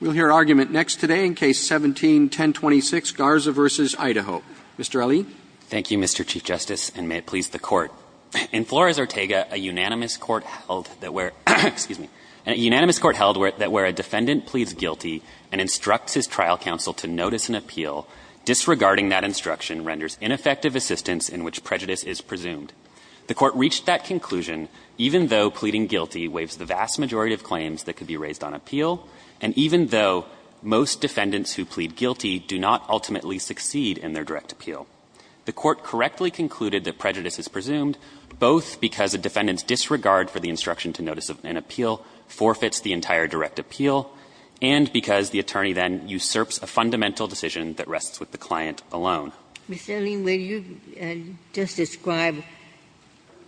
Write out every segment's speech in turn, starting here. We'll hear argument next today in Case 17-1026, Garza v. Idaho. Mr. Ali. Thank you, Mr. Chief Justice, and may it please the Court. In Flores, Ortega, a unanimous court held that where a defendant pleads guilty and instructs his trial counsel to notice an appeal, disregarding that instruction renders ineffective assistance in which prejudice is presumed. The Court reached that conclusion even though pleading guilty waives the vast majority of claims that could be raised on appeal, and even though most defendants who plead guilty do not ultimately succeed in their direct appeal. The Court correctly concluded that prejudice is presumed both because a defendant's disregard for the instruction to notice an appeal forfeits the entire direct appeal, and because the attorney then usurps a fundamental decision that rests with the client alone. Ginsburg. Mr. Ali, will you just describe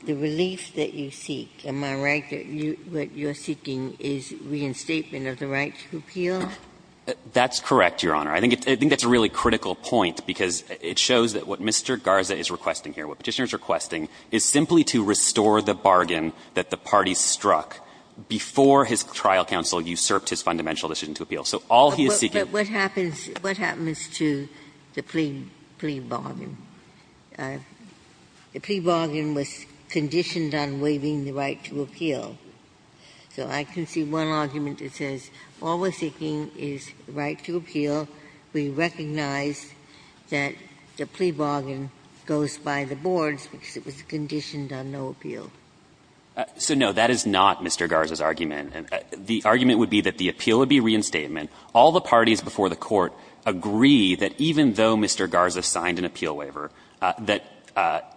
the relief that you seek? Am I right that what you're seeking is reinstatement of the right to appeal? That's correct, Your Honor. I think that's a really critical point, because it shows that what Mr. Garza is requesting here, what Petitioner is requesting, is simply to restore the bargain that the party struck before his trial counsel usurped his fundamental decision to appeal. So all he is seeking is reinstatement of the right to appeal, so all he is seeking is reinstatement of the right to appeal. But what happens to the plea bargain? The plea bargain was conditioned on waiving the right to appeal. So I can see one argument that says all we're seeking is the right to appeal. We recognize that the plea bargain goes by the boards because it was conditioned on no appeal. So, no, that is not Mr. Garza's argument. The argument would be that the appeal would be reinstatement. All the parties before the Court agree that even though Mr. Garza signed an appeal waiver, that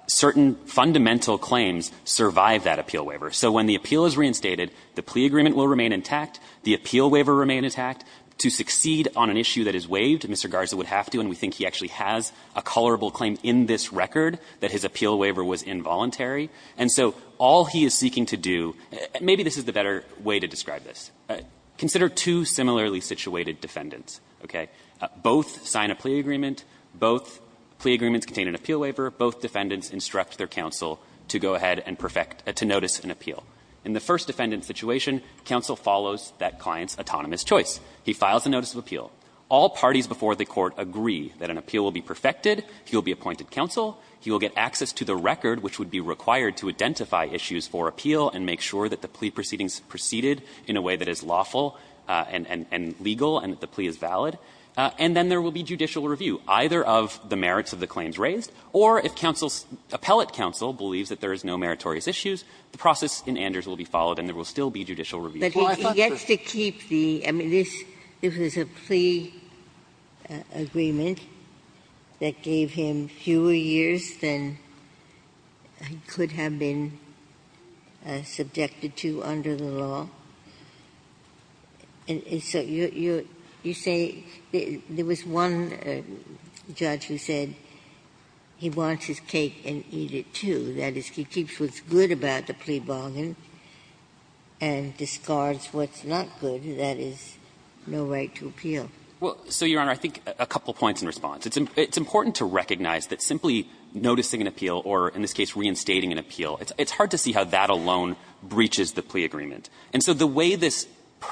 certain fundamental claims survive that appeal waiver. So when the appeal is reinstated, the plea agreement will remain intact, the appeal waiver remain intact. To succeed on an issue that is waived, Mr. Garza would have to, and we think he actually has, a colorable claim in this record that his appeal waiver was involuntary. And so all he is seeking to do, maybe this is the better way to describe this. Consider two similarly situated defendants, okay? Both sign a plea agreement. Both plea agreements contain an appeal waiver. Both defendants instruct their counsel to go ahead and perfect to notice an appeal. In the first defendant's situation, counsel follows that client's autonomous choice. He files a notice of appeal. All parties before the Court agree that an appeal will be perfected. He will be appointed counsel. He will get access to the record, which would be required to identify issues for appeal and make sure that the plea proceedings proceeded in a way that is lawful and legal and that the plea is valid. And then there will be judicial review, either of the merits of the claims raised, or if counsel's appellate counsel believes that there is no meritorious issues, the process in Anders will be followed and there will still be judicial review. Ginsburg. But he gets to keep the – I mean, this is a plea agreement that gave him fewer years than he could have been subjected to under the law. And so you say there was one judge who said he wants his cake and eat it, too. That is, he keeps what's good about the plea bargain and discards what's not good. That is, no right to appeal. Well, so, Your Honor, I think a couple points in response. It's important to recognize that simply noticing an appeal or, in this case, reinstating an appeal, it's hard to see how that alone breaches the plea agreement. And so the way this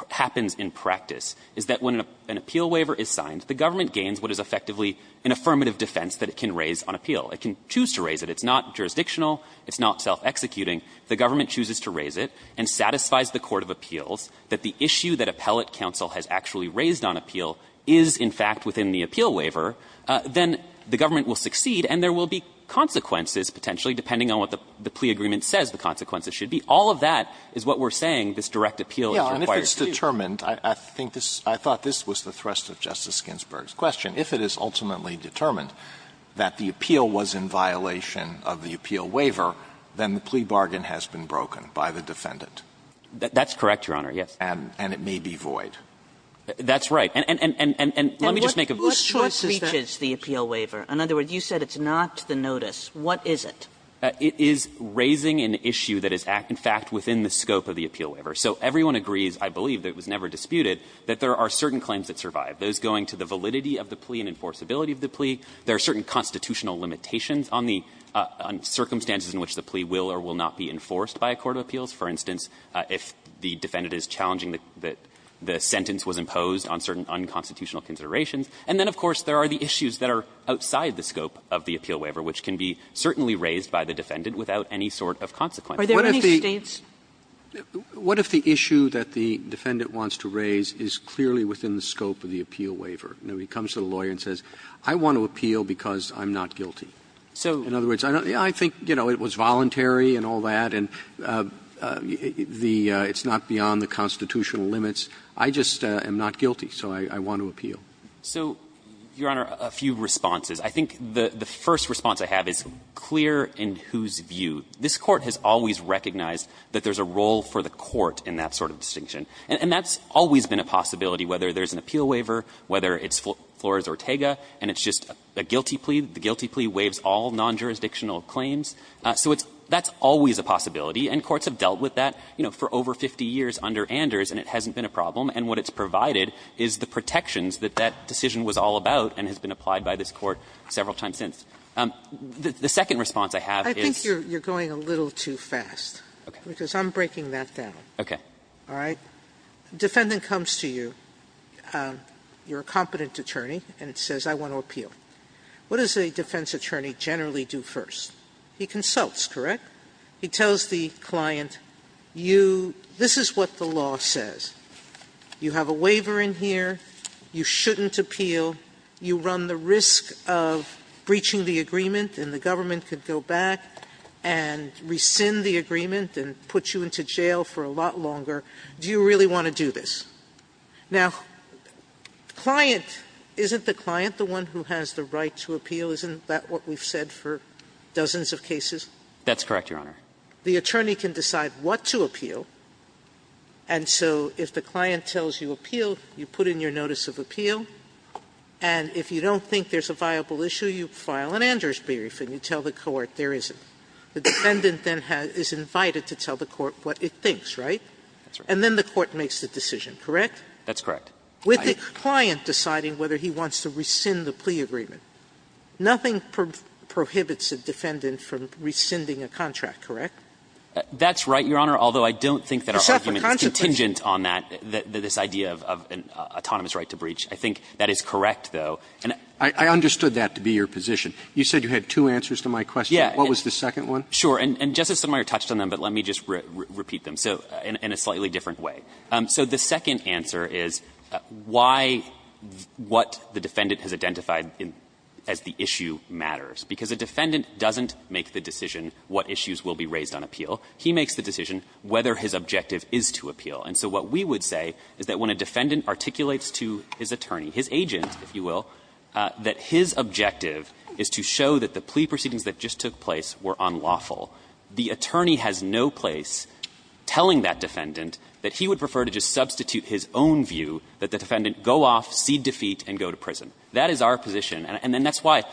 happens in practice is that when an appeal waiver is signed, the government gains what is effectively an affirmative defense that it can raise on appeal. It can choose to raise it. It's not jurisdictional. It's not self-executing. The government chooses to raise it and satisfies the court of appeals that the issue that appellate counsel has actually raised on appeal is, in fact, within the appeal waiver, then the government will succeed and there will be consequences, potentially, depending on what the plea agreement says the consequences should be. All of that is what we're saying this direct appeal requires. Alito, I think this – I thought this was the thrust of Justice Ginsburg's question. If it is ultimately determined that the appeal was in violation of the appeal waiver, then the plea bargain has been broken by the defendant. That's correct, Your Honor, yes. And it may be void. That's right. And let me just make a brief choice. And what breaches the appeal waiver? In other words, you said it's not the notice. What is it? It is raising an issue that is, in fact, within the scope of the appeal waiver. So everyone agrees, I believe, that it was never disputed, that there are certain limitations on the validity of the plea and enforceability of the plea. There are certain constitutional limitations on the circumstances in which the plea will or will not be enforced by a court of appeals. For instance, if the defendant is challenging that the sentence was imposed on certain unconstitutional considerations. And then, of course, there are the issues that are outside the scope of the appeal waiver, which can be certainly raised by the defendant without any sort of consequence. Are there any States? What if the issue that the defendant wants to raise is clearly within the scope of the appeal waiver? Now, he comes to the lawyer and says, I want to appeal because I'm not guilty. In other words, I think, you know, it was voluntary and all that, and it's not beyond the constitutional limits. I just am not guilty, so I want to appeal. So, Your Honor, a few responses. I think the first response I have is clear in whose view. This Court has always recognized that there's a role for the Court in that sort of distinction. And that's always been a possibility, whether there's an appeal waiver, whether it's Flores-Ortega, and it's just a guilty plea, the guilty plea waives all non-jurisdictional claims. So it's always a possibility, and courts have dealt with that, you know, for over 50 years under Anders, and it hasn't been a problem. And what it's provided is the protections that that decision was all about and has been applied by this Court several times since. The second response I have is you're going a little too fast, because I'm breaking that down. Okay. All right? Defendant comes to you, you're a competent attorney, and it says, I want to appeal. What does a defense attorney generally do first? He consults, correct? He tells the client, this is what the law says. You have a waiver in here, you shouldn't appeal, you run the risk of breaching the agreement, and the government could go back and rescind the agreement and put you into jail for a lot longer. Do you really want to do this? Now, client, isn't the client the one who has the right to appeal? Isn't that what we've said for dozens of cases? That's correct, Your Honor. The attorney can decide what to appeal, and so if the client tells you appeal, you put in your notice of appeal, and if you don't think there's a viable issue, you file an Anders brief and you tell the court there isn't. The defendant then is invited to tell the court what it thinks, right? And then the court makes the decision, correct? That's correct. With the client deciding whether he wants to rescind the plea agreement, nothing prohibits a defendant from rescinding a contract, correct? That's right, Your Honor, although I don't think that our argument is contingent on that, this idea of an autonomous right to breach. I think that is correct, though. You said you had two answers to my question. What was the second one? Sure. And Justice Sotomayor touched on them, but let me just repeat them, so in a slightly different way. So the second answer is why what the defendant has identified as the issue matters. Because a defendant doesn't make the decision what issues will be raised on appeal. He makes the decision whether his objective is to appeal. And so what we would say is that when a defendant articulates to his attorney, his agent, if you will, that his objective is to show that the plea proceedings that just took place were unlawful, the attorney has no place telling that defendant that he would prefer to just substitute his own view, that the defendant go off, cede defeat, and go to prison. That is our position, and then that's why,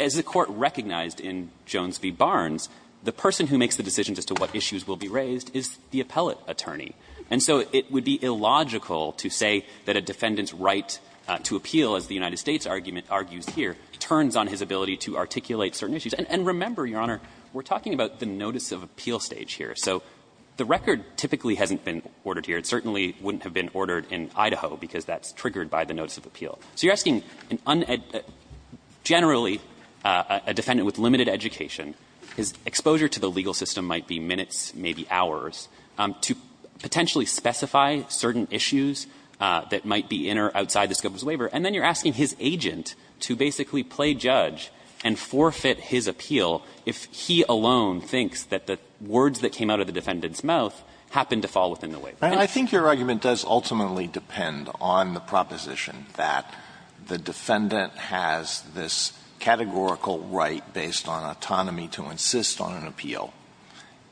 as the Court recognized in Jones v. Barnes, the person who makes the decisions as to what issues will be raised is the appellate attorney. And so it would be illogical to say that a defendant's right to appeal, as the United States argument argues here, turns on his ability to articulate certain issues. And remember, Your Honor, we're talking about the notice of appeal stage here. So the record typically hasn't been ordered here. It certainly wouldn't have been ordered in Idaho, because that's triggered by the notice of appeal. So you're asking generally a defendant with limited education, his exposure to the legal system might be minutes, maybe hours, to potentially specify certain issues that might be in or outside the scope of his waiver, and then you're asking his agent to basically play judge and forfeit his appeal if he alone thinks that the words that came out of the defendant's mouth happened to fall within the waiver. Alito, I think your argument does ultimately depend on the proposition that the defendant has this categorical right based on autonomy to insist on an appeal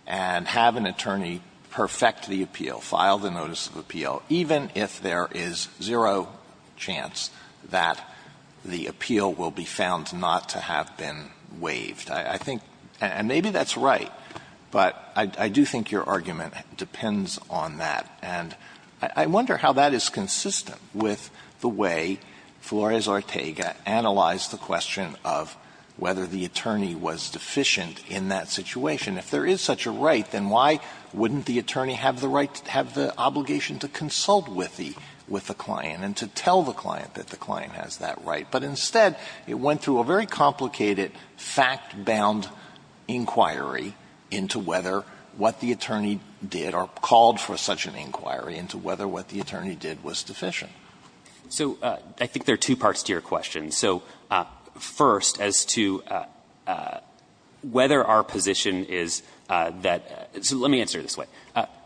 and have an attorney perfect the appeal, file the notice of appeal, even if there is zero chance that the appeal will be found not to have been waived. I think — and maybe that's right, but I do think your argument depends on that. And I wonder how that is consistent with the way Flores-Ortega analyzed the question of whether the attorney was deficient in that situation. If there is such a right, then why wouldn't the attorney have the right to have the obligation to consult with the — with the client and to tell the client that the attorney was deficient? Instead, it went through a very complicated, fact-bound inquiry into whether what the attorney did or called for such an inquiry into whether what the attorney did was deficient. So I think there are two parts to your question. So first, as to whether our position is that — so let me answer it this way.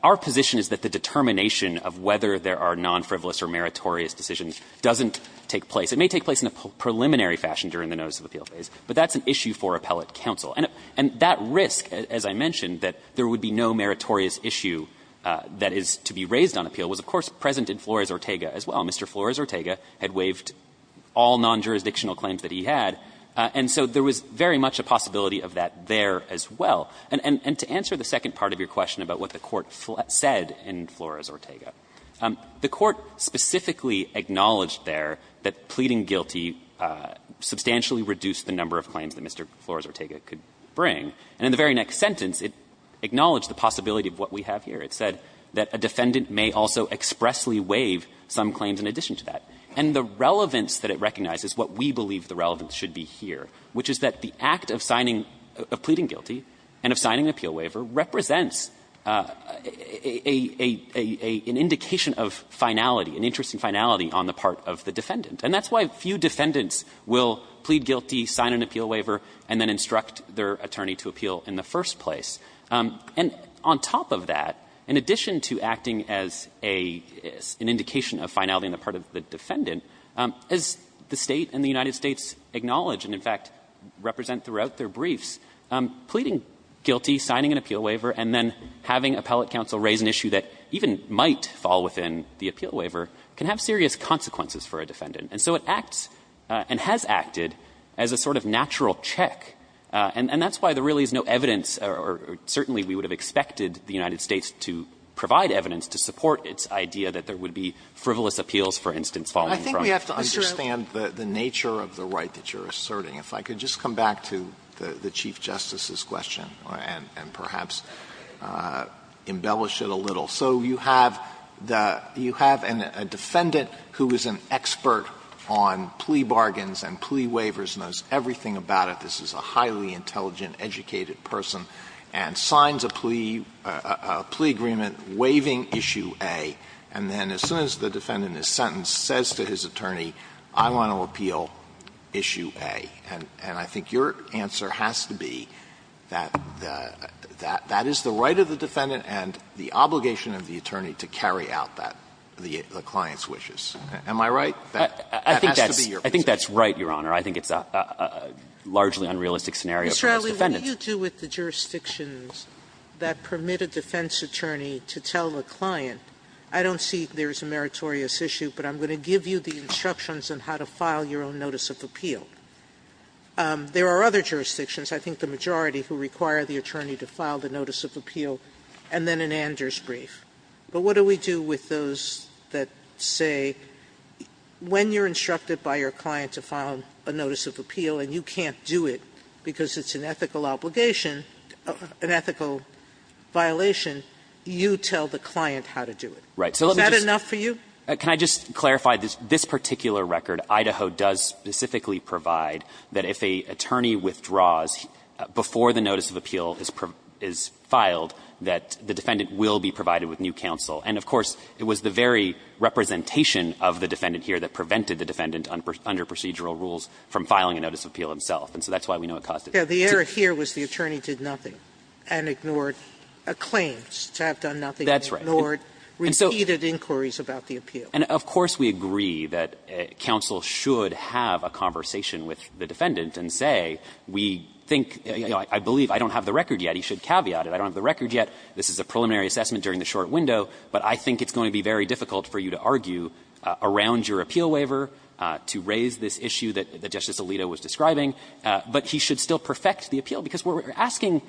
Our position is that the determination of whether there are non-frivolous or meritorious decisions doesn't take place. It may take place in a preliminary fashion during the notice of appeal phase, but that's an issue for appellate counsel. And that risk, as I mentioned, that there would be no meritorious issue that is to be raised on appeal, was, of course, present in Flores-Ortega as well. Mr. Flores-Ortega had waived all non-jurisdictional claims that he had, and so there was very much a possibility of that there as well. And to answer the second part of your question about what the Court said in Flores-Ortega, the Court specifically acknowledged there that pleading guilty substantially reduced the number of claims that Mr. Flores-Ortega could bring. And in the very next sentence, it acknowledged the possibility of what we have here. It said that a defendant may also expressly waive some claims in addition to that. And the relevance that it recognizes, what we believe the relevance should be here, which is that the act of signing — of pleading guilty and of signing an appeal waiver represents an indication of finality, an interesting finality on the part of the defendant. And that's why few defendants will plead guilty, sign an appeal waiver, and then instruct their attorney to appeal in the first place. And on top of that, in addition to acting as an indication of finality on the part of the defendant, as the State and the United States acknowledge and, in fact, represent throughout their briefs, pleading guilty, signing an appeal waiver, and then having appellate counsel raise an issue that even might fall within the appeal waiver can have serious consequences for a defendant. And so it acts and has acted as a sort of natural check. And that's why there really is no evidence, or certainly we would have expected the United States to provide evidence to support its idea that there would be frivolous appeals, for instance, falling from Mr. O'Connor. Alito, I don't understand the nature of the right that you're asserting. If I could just come back to the Chief Justice's question and perhaps embellish it a little. So you have the — you have a defendant who is an expert on plea bargains and plea waivers, knows everything about it. This is a highly intelligent, educated person, and signs a plea — a plea agreement waiving issue A, and then as soon as the defendant is sentenced, says to his attorney, I want to appeal issue A. And I think your answer has to be that that is the right of the defendant and the obligation of the attorney to carry out that — the client's wishes. Am I right? That has to be your position. I think that's right, Your Honor. I think it's a largely unrealistic scenario for those defendants. Sotomayor, what do you do with the jurisdictions that permit a defense attorney to tell a client, I don't see there's a meritorious issue, but I'm going to give you the instructions on how to file your own notice of appeal? There are other jurisdictions, I think the majority, who require the attorney to file the notice of appeal and then an Anders brief. But what do we do with those that say, when you're instructed by your client to file your own notice of appeal and you can't do it because it's an ethical obligation — an ethical violation, you tell the client how to do it? So let me just — Is that enough for you? Can I just clarify, this particular record, Idaho does specifically provide that if an attorney withdraws before the notice of appeal is filed, that the defendant will be provided with new counsel. And of course, it was the very representation of the defendant here that prevented the defendant under procedural rules from filing a notice of appeal himself. And so that's why we know it caused it to be. Sotomayor, the error here was the attorney did nothing and ignored claims to have done nothing. That's right. And ignored repeated inquiries about the appeal. And of course, we agree that counsel should have a conversation with the defendant and say, we think, you know, I believe, I don't have the record yet. He should caveat it. I don't have the record yet. This is a preliminary assessment during the short window, but I think it's going to be very difficult for you to argue around your appeal waiver to raise this issue that Justice Alito was describing. But he should still perfect the appeal, because what we're asking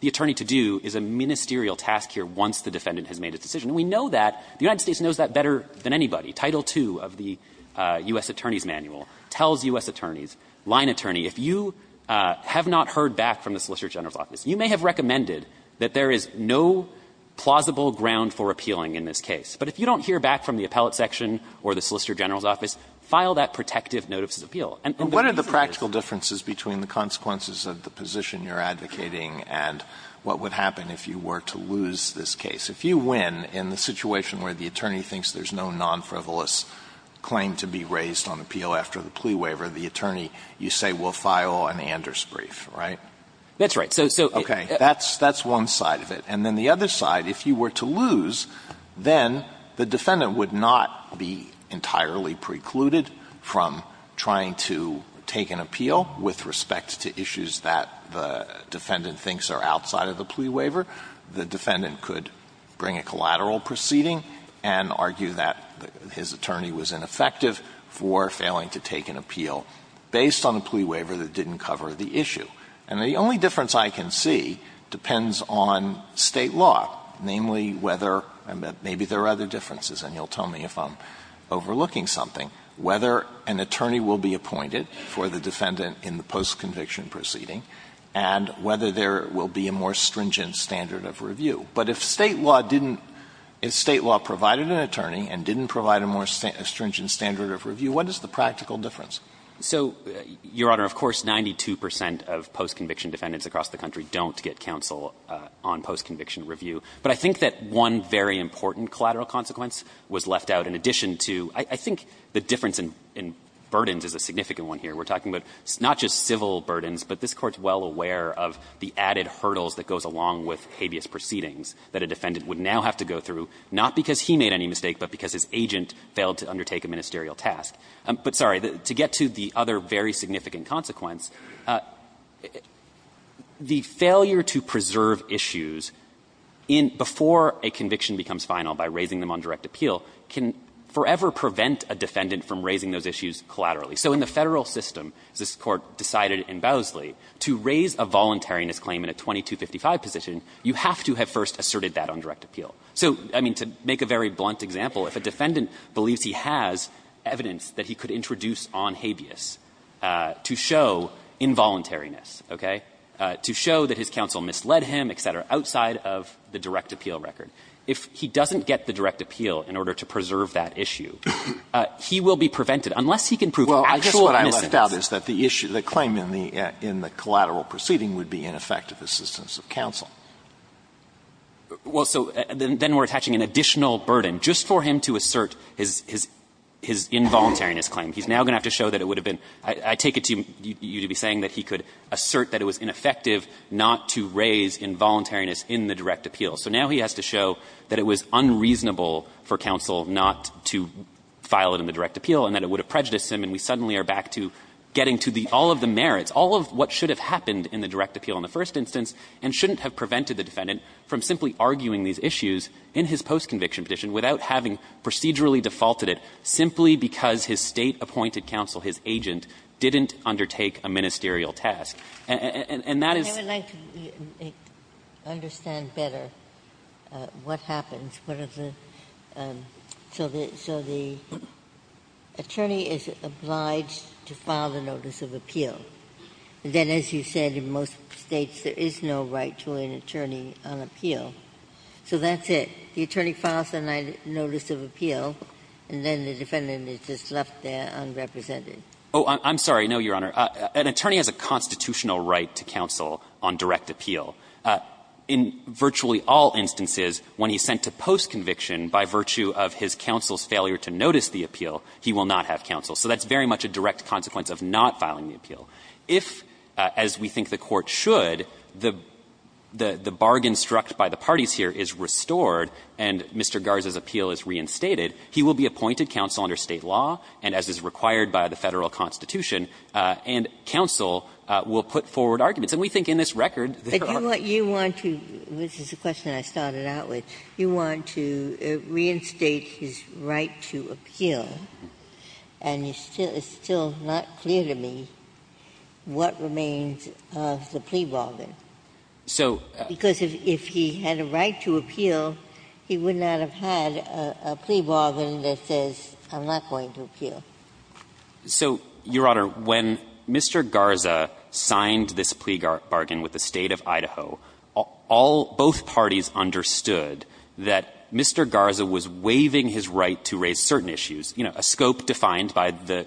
the attorney to do is a ministerial task here once the defendant has made a decision. And we know that. The United States knows that better than anybody. Title II of the U.S. Attorney's Manual tells U.S. attorneys, line attorney, if you have not heard back from the Solicitor General's office, you may have recommended that there is no plausible ground for appealing in this case. But if you don't hear back from the appellate section or the Solicitor General's office, file that protective notice of appeal. And the reason is that the plaintiff has not heard back from the appellate section. Alito But what are the practical differences between the consequences of the position you're advocating and what would happen if you were to lose this case? If you win in the situation where the attorney thinks there's no nonfrivolous claim to be raised on appeal after the plea waiver, the attorney, you say, we'll file an Anders brief, right? That's right. So, okay. That's one side of it. And then the other side, if you were to lose, then the defendant would not be entirely precluded from trying to take an appeal with respect to issues that the defendant thinks are outside of the plea waiver. The defendant could bring a collateral proceeding and argue that his attorney was ineffective for failing to take an appeal based on a plea waiver that didn't cover the issue. And the only difference I can see depends on State law, namely whether, and maybe there are other differences, and you'll tell me if I'm overlooking something, whether an attorney will be appointed for the defendant in the postconviction proceeding and whether there will be a more stringent standard of review. But if State law didn't – if State law provided an attorney and didn't provide a more stringent standard of review, what is the practical difference? So, Your Honor, of course, 92 percent of postconviction defendants across the country don't get counsel on postconviction review. But I think that one very important collateral consequence was left out in addition to – I think the difference in burdens is a significant one here. We're talking about not just civil burdens, but this Court's well aware of the added hurdles that goes along with habeas proceedings that a defendant would now have to go through, not because he made any mistake, but because his agent failed to undertake a ministerial task. But, sorry, to get to the other very significant consequence, the failure to preserve issues in – before a conviction becomes final by raising them on direct appeal can forever prevent a defendant from raising those issues collaterally. So in the Federal system, as this Court decided in Bowsley, to raise a voluntariness claim in a 2255 position, you have to have first asserted that on direct appeal. So, I mean, to make a very simple, if a defendant believes he has evidence that he could introduce on habeas to show involuntariness, okay, to show that his counsel misled him, et cetera, outside of the direct appeal record, if he doesn't get the direct appeal in order to preserve that issue, he will be prevented, unless he can prove actual mistakes. Breyer. Well, I guess what I left out is that the issue, the claim in the – in the collateral proceeding would be ineffective assistance of counsel. Well, so then we're attaching an additional burden just for him to assert his – his involuntariness claim. He's now going to have to show that it would have been – I take it to you to be saying that he could assert that it was ineffective not to raise involuntariness in the direct appeal. So now he has to show that it was unreasonable for counsel not to file it in the direct appeal and that it would have prejudiced him, and we suddenly are back to getting to the – all of the merits, all of what should have happened in the direct appeal in the first instance, and shouldn't have prevented the defendant from simply arguing these issues in his post-conviction petition without having procedurally defaulted it, simply because his State-appointed counsel, his agent, didn't undertake a ministerial task. And that is the question. Ginsburg. I would like to understand better what happens. What are the – so the attorney is obliged to file a notice of appeal, and then, as you said, in most States there is no right to an attorney on appeal. So that's it. The attorney files a notice of appeal, and then the defendant is just left there unrepresented. Oh, I'm sorry. No, Your Honor. An attorney has a constitutional right to counsel on direct appeal. In virtually all instances, when he's sent to post-conviction by virtue of his counsel's failure to notice the appeal, he will not have counsel. So that's very much a direct consequence of not filing the appeal. If, as we think the Court should, the – the bargain struck by the parties here is restored and Mr. Garza's appeal is reinstated, he will be appointed counsel under State law, and as is required by the Federal Constitution, and counsel will put forward arguments. And we think in this record, there are – But you want to – this is a question I started out with. You want to reinstate his right to appeal, and you're still – it's still not clear to me what remains of the plea bargain. So – Because if he had a right to appeal, he would not have had a plea bargain that says, I'm not going to appeal. So, Your Honor, when Mr. Garza signed this plea bargain with the State of Idaho, all – both parties understood that Mr. Garza was waiving his right to raise certain issues, you know, a scope defined by the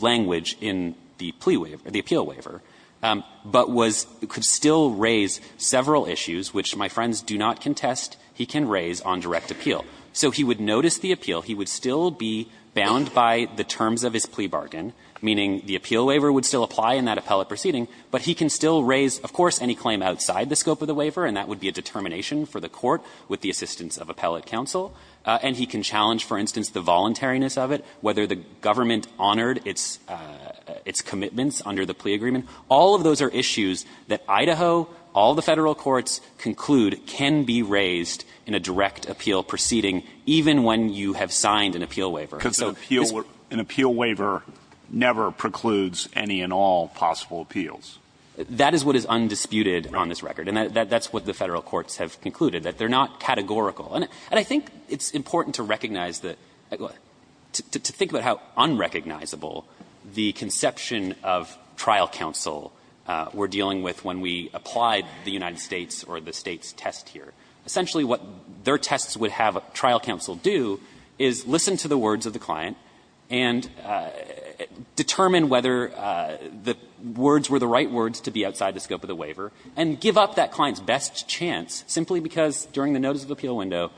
language in the plea waiver – the appeal waiver, but was – could still raise several issues, which my friends do not contest he can raise on direct appeal. So he would notice the appeal. He would still be bound by the terms of his plea bargain, meaning the appeal waiver would still apply in that appellate proceeding, but he can still raise, of course, any claim outside the scope of the waiver, and that would be a determination for the court with the assistance of appellate counsel. And he can challenge, for instance, the voluntariness of it, whether the government honored its commitments under the plea agreement. All of those are issues that Idaho, all the Federal courts conclude can be raised in a direct appeal proceeding, even when you have signed an appeal waiver. So this – Because an appeal waiver never precludes any and all possible appeals. That is what is undisputed on this record. And that's what the Federal courts have concluded, that they're not categorical. And I think it's important to recognize that – to think about how unrecognizable the conception of trial counsel we're dealing with when we applied the United States or the States test here. Essentially, what their tests would have trial counsel do is listen to the words of the client and determine whether the words were the right words to be outside the scope of the waiver, and give up that client's best chance, simply because during the notice of appeal window,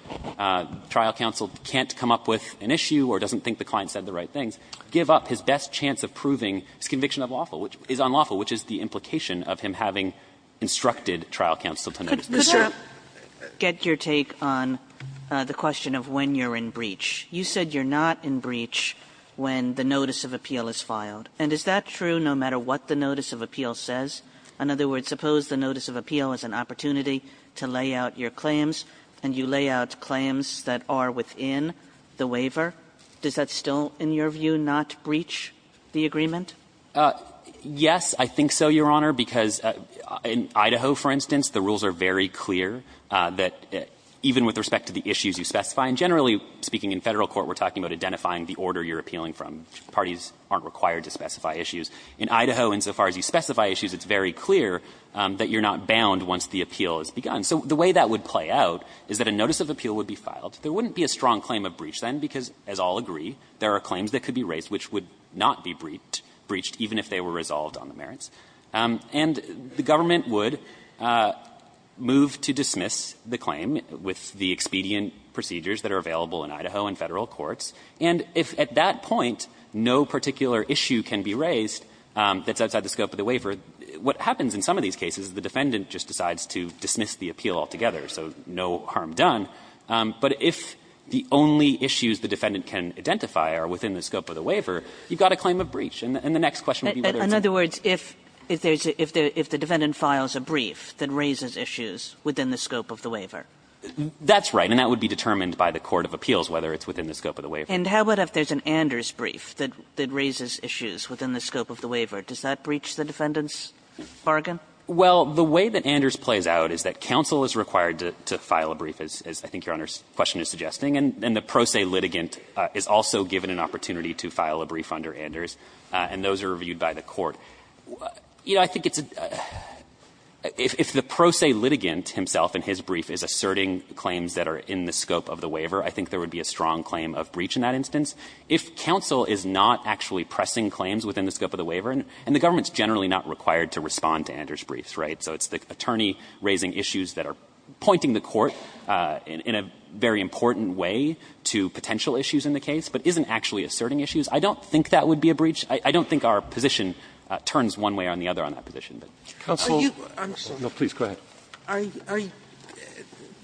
trial counsel can't come up with an issue or doesn't think the client said the right things, give up his best chance of proving his conviction of unlawful, which is the implication of him having instructed trial counsel to notice this. Sotomayor, get your take on the question of when you're in breach. You said you're not in breach when the notice of appeal is filed. And is that true no matter what the notice of appeal says? In other words, suppose the notice of appeal is an opportunity to lay out your claims, and you lay out claims that are within the waiver. Does that still, in your view, not breach the agreement? Yes, I think so, Your Honor, because in Idaho, for instance, the rules are very clear that even with respect to the issues you specify, and generally speaking in Federal court, we're talking about identifying the order you're appealing from. Parties aren't required to specify issues. In Idaho, insofar as you specify issues, it's very clear that you're not bound once the appeal has begun. So the way that would play out is that a notice of appeal would be filed. There wouldn't be a strong claim of breach then, because, as I'll agree, there are claims that could be raised which would not be breached, even if they were resolved on the merits. And the government would move to dismiss the claim with the expedient procedures that are available in Idaho in Federal courts. And if at that point, no particular issue can be raised that's outside the scope of the waiver, what happens in some of these cases is the defendant just decides to dismiss the appeal altogether, so no harm done. But if the only issues the defendant can identify are within the scope of the waiver, you've got a claim of breach. And the next question would be whether it's a breach. Kagan. Kagan. Kagan. Kagan. Kagan. Kagan. Kagan. Kagan. Kagan. Kagan. Kagan. Kagan. And how about if there's an Anders brief that raises issues within the scope of the waiver? Does that breach the defendant's bargain? Well, the way that Anders plays out is that counsel is required to file a brief, as I think Your Honor's question is suggesting, and the pro se litigant is also given an opportunity to file a brief under Anders, and those are reviewed by the court. You know, I think it's a – if the pro se litigant himself in his brief is asserting claims that are in the scope of the waiver, I think there would be a strong claim of breach in that instance. If counsel is not actually pressing claims within the scope of the waiver, and the government's generally not required to respond to Anders' briefs, right, so it's the attorney raising issues that are pointing the court in a very important way to potential issues in the case, but isn't actually asserting issues, I don't think that would be a breach. I don't think our position turns one way or the other on that position. But counsel – Are you – I'm sorry. No, please, go ahead. Are you –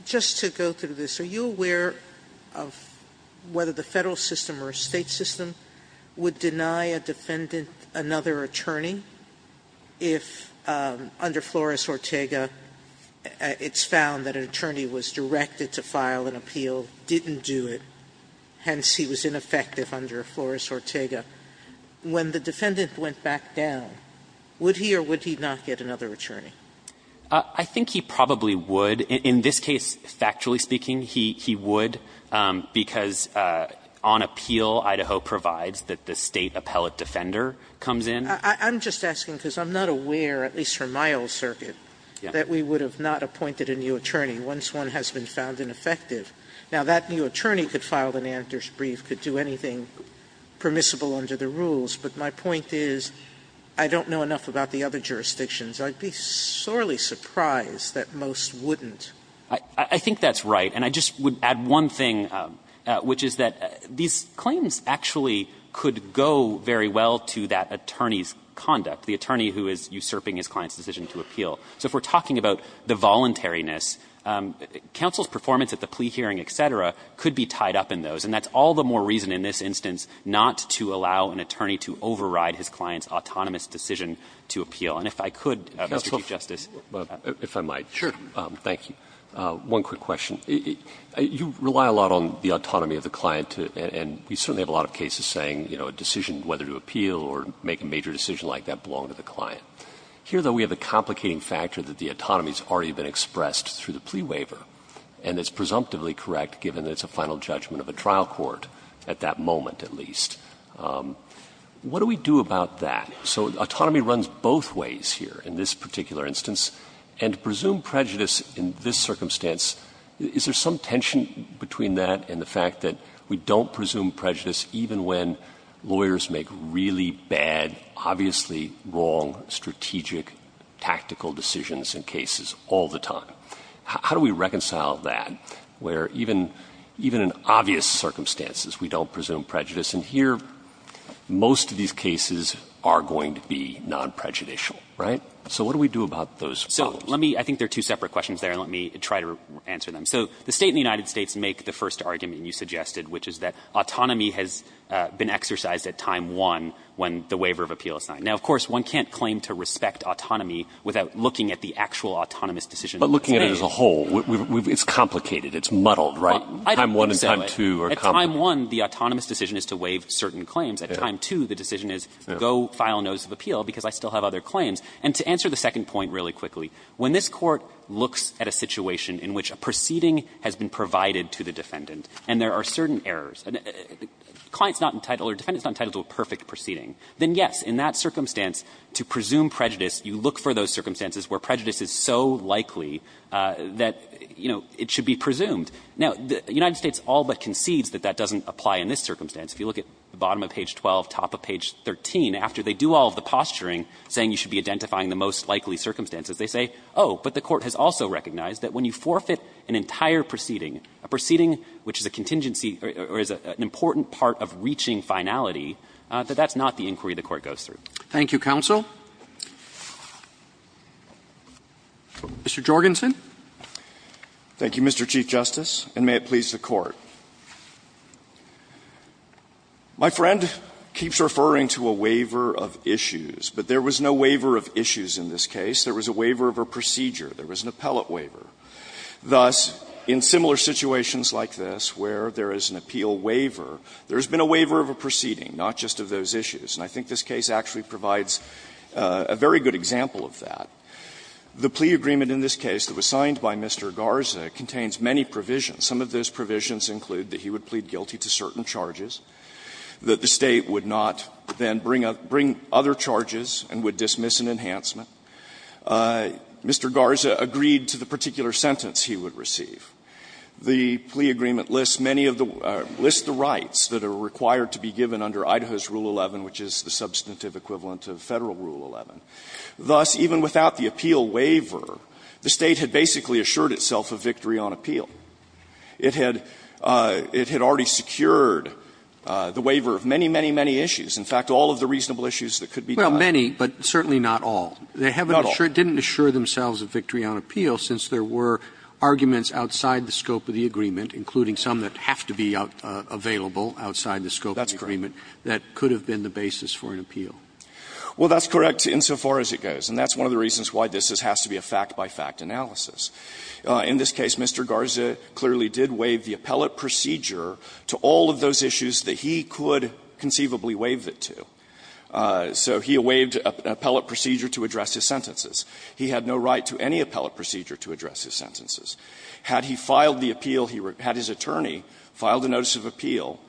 just to go through this, are you aware of whether the Federal system or State system would deny a defendant another attorney if under Flores-Ortega it's found that an attorney was directed to file an appeal, didn't do it, hence he was ineffective under Flores-Ortega? When the defendant went back down, would he or would he not get another attorney? I think he probably would. In this case, factually speaking, he would, because on appeal, Idaho provides that the State appellate defender comes in. I'm just asking because I'm not aware, at least from my old circuit, that we would have not appointed a new attorney once one has been found ineffective. Now, that new attorney could file an Anders' brief, could do anything permissible under the rules, but my point is I don't know enough about the other jurisdictions. I'd be sorely surprised that most wouldn't. I think that's right. And I just would add one thing, which is that these claims actually could go very well to that attorney's conduct, the attorney who is usurping his client's decision to appeal. So if we're talking about the voluntariness, counsel's performance at the plea hearing, et cetera, could be tied up in those. And that's all the more reason in this instance not to allow an attorney to override his client's autonomous decision to appeal. And if I could, Mr. Chief Justice. Roberts. If I might. Sure. Thank you. One quick question. You rely a lot on the autonomy of the client, and we certainly have a lot of cases saying, you know, a decision, whether to appeal or make a major decision like that, belonged to the client. Here, though, we have a complicating factor that the autonomy has already been expressed through the plea waiver, and it's presumptively correct given that it's a final judgment of a trial court at that moment, at least. What do we do about that? So autonomy runs both ways here in this particular instance. And to presume prejudice in this circumstance, is there some tension between that and the fact that we don't presume prejudice even when lawyers make really bad, obviously wrong, strategic, tactical decisions in cases all the time? How do we reconcile that where even in obvious circumstances we don't presume prejudice? And here, most of these cases are going to be non-prejudicial, right? So what do we do about those problems? So let me – I think there are two separate questions there, and let me try to answer them. So the State and the United States make the first argument you suggested, which is that autonomy has been exercised at time one when the waiver of appeal is signed. Now, of course, one can't claim to respect autonomy without looking at the actual autonomous decision of the State. But looking at it as a whole, it's complicated. It's muddled, right? I don't think so. Time one and time two are complicated. At time one, the autonomous decision is to waive certain claims. At time two, the decision is go file notice of appeal because I still have other claims. And to answer the second point really quickly, when this Court looks at a situation in which a proceeding has been provided to the defendant and there are certain errors, client's not entitled or defendant's not entitled to a perfect proceeding, then yes, in that circumstance, to presume prejudice, you look for those circumstances where prejudice is so likely that, you know, it should be presumed. Now, the United States all but concedes that that doesn't apply in this circumstance. If you look at the bottom of page 12, top of page 13, after they do all of the posturing saying you should be identifying the most likely circumstances, they say, oh, but the Court has also recognized that when you forfeit an entire proceeding, a proceeding which is a contingency or is an important part of reaching finality, that that's not the inquiry the Court goes through. Roberts. Thank you, counsel. Mr. Jorgensen. Jorgensen. Thank you, Mr. Chief Justice, and may it please the Court. My friend keeps referring to a waiver of issues, but there was no waiver of issues in this case. There was a waiver of a procedure. There was an appellate waiver. Thus, in similar situations like this where there is an appeal waiver, there has been a waiver of a proceeding, not just of those issues. And I think this case actually provides a very good example of that. The plea agreement in this case that was signed by Mr. Garza contains many provisions. Some of those provisions include that he would plead guilty to certain charges, that the State would not then bring up other charges and would dismiss an enhancement. Mr. Garza agreed to the particular sentence he would receive. The plea agreement lists many of the rights that are required to be given under Idaho's Rule 11, which is the substantive equivalent of Federal Rule 11. Thus, even without the appeal waiver, the State had basically assured itself of victory on appeal. It had already secured the waiver of many, many, many issues. In fact, all of the reasonable issues that could be done. Roberts. Well, many, but certainly not all. They haven't assured, didn't assure themselves of victory on appeal since there were arguments outside the scope of the agreement, including some that have to be available outside the scope of the agreement, that could have been the basis for an appeal. Well, that's correct. Insofar as it goes. And that's one of the reasons why this has to be a fact-by-fact analysis. In this case, Mr. Garza clearly did waive the appellate procedure to all of those issues that he could conceivably waive it to. So he waived an appellate procedure to address his sentences. He had no right to any appellate procedure to address his sentences. Had he filed the appeal, had his attorney filed a notice of appeal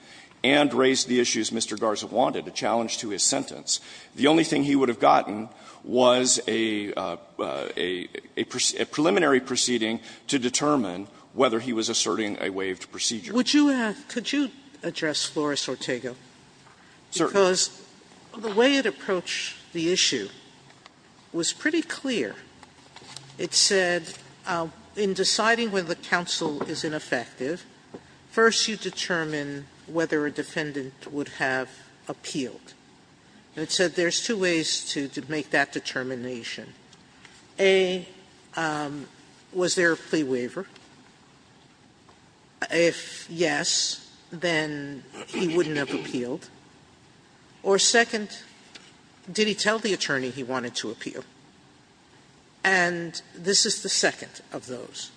and raised the issues Mr. Garza wanted, a challenge to his sentence, the only thing he would have gotten was a preliminary proceeding to determine whether he was asserting a waived procedure. Sotomayor, would you address Flores-Ortego? Because the way it approached the issue was pretty clear. It said in deciding whether the counsel is ineffective, first you determine whether a defendant would have appealed. And it said there's two ways to make that determination. A, was there a plea waiver? If yes, then he wouldn't have appealed. Or second, did he tell the attorney he wanted to appeal? And this is the second of those.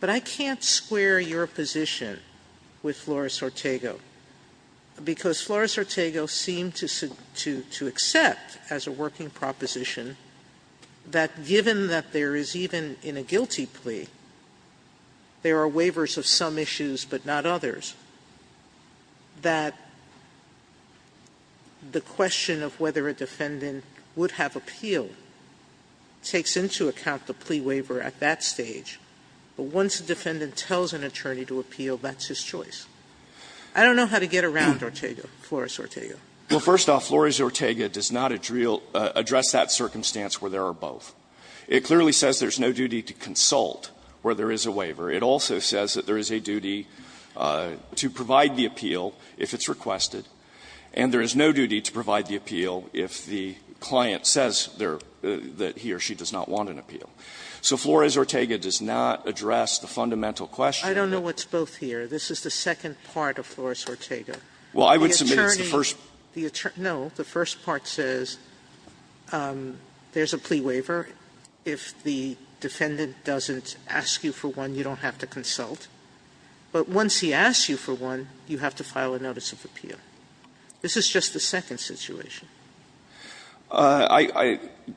But I can't square your position with Flores-Ortego. Because Flores-Ortego seemed to accept as a working proposition that given that there is even in a guilty plea, there are waivers of some issues, but not others. That the question of whether a defendant would have appealed takes into account the plea waiver at that stage. But once the defendant tells an attorney to appeal, that's his choice. I don't know how to get around Ortega, Flores-Ortego. Well, first off, Flores-Ortega does not address that circumstance where there are both. It clearly says there's no duty to consult where there is a waiver. It also says that there is a duty to provide the appeal if it's requested. And there is no duty to provide the appeal if the client says that he or she does not want an appeal. So Flores-Ortega does not address the fundamental question. I don't know what's both here. This is the second part of Flores-Ortega. The attorney's first part says there's a plea waiver. If the defendant doesn't ask you for one, you don't have to consult. But once he asks you for one, you have to file a notice of appeal. This is just the second situation.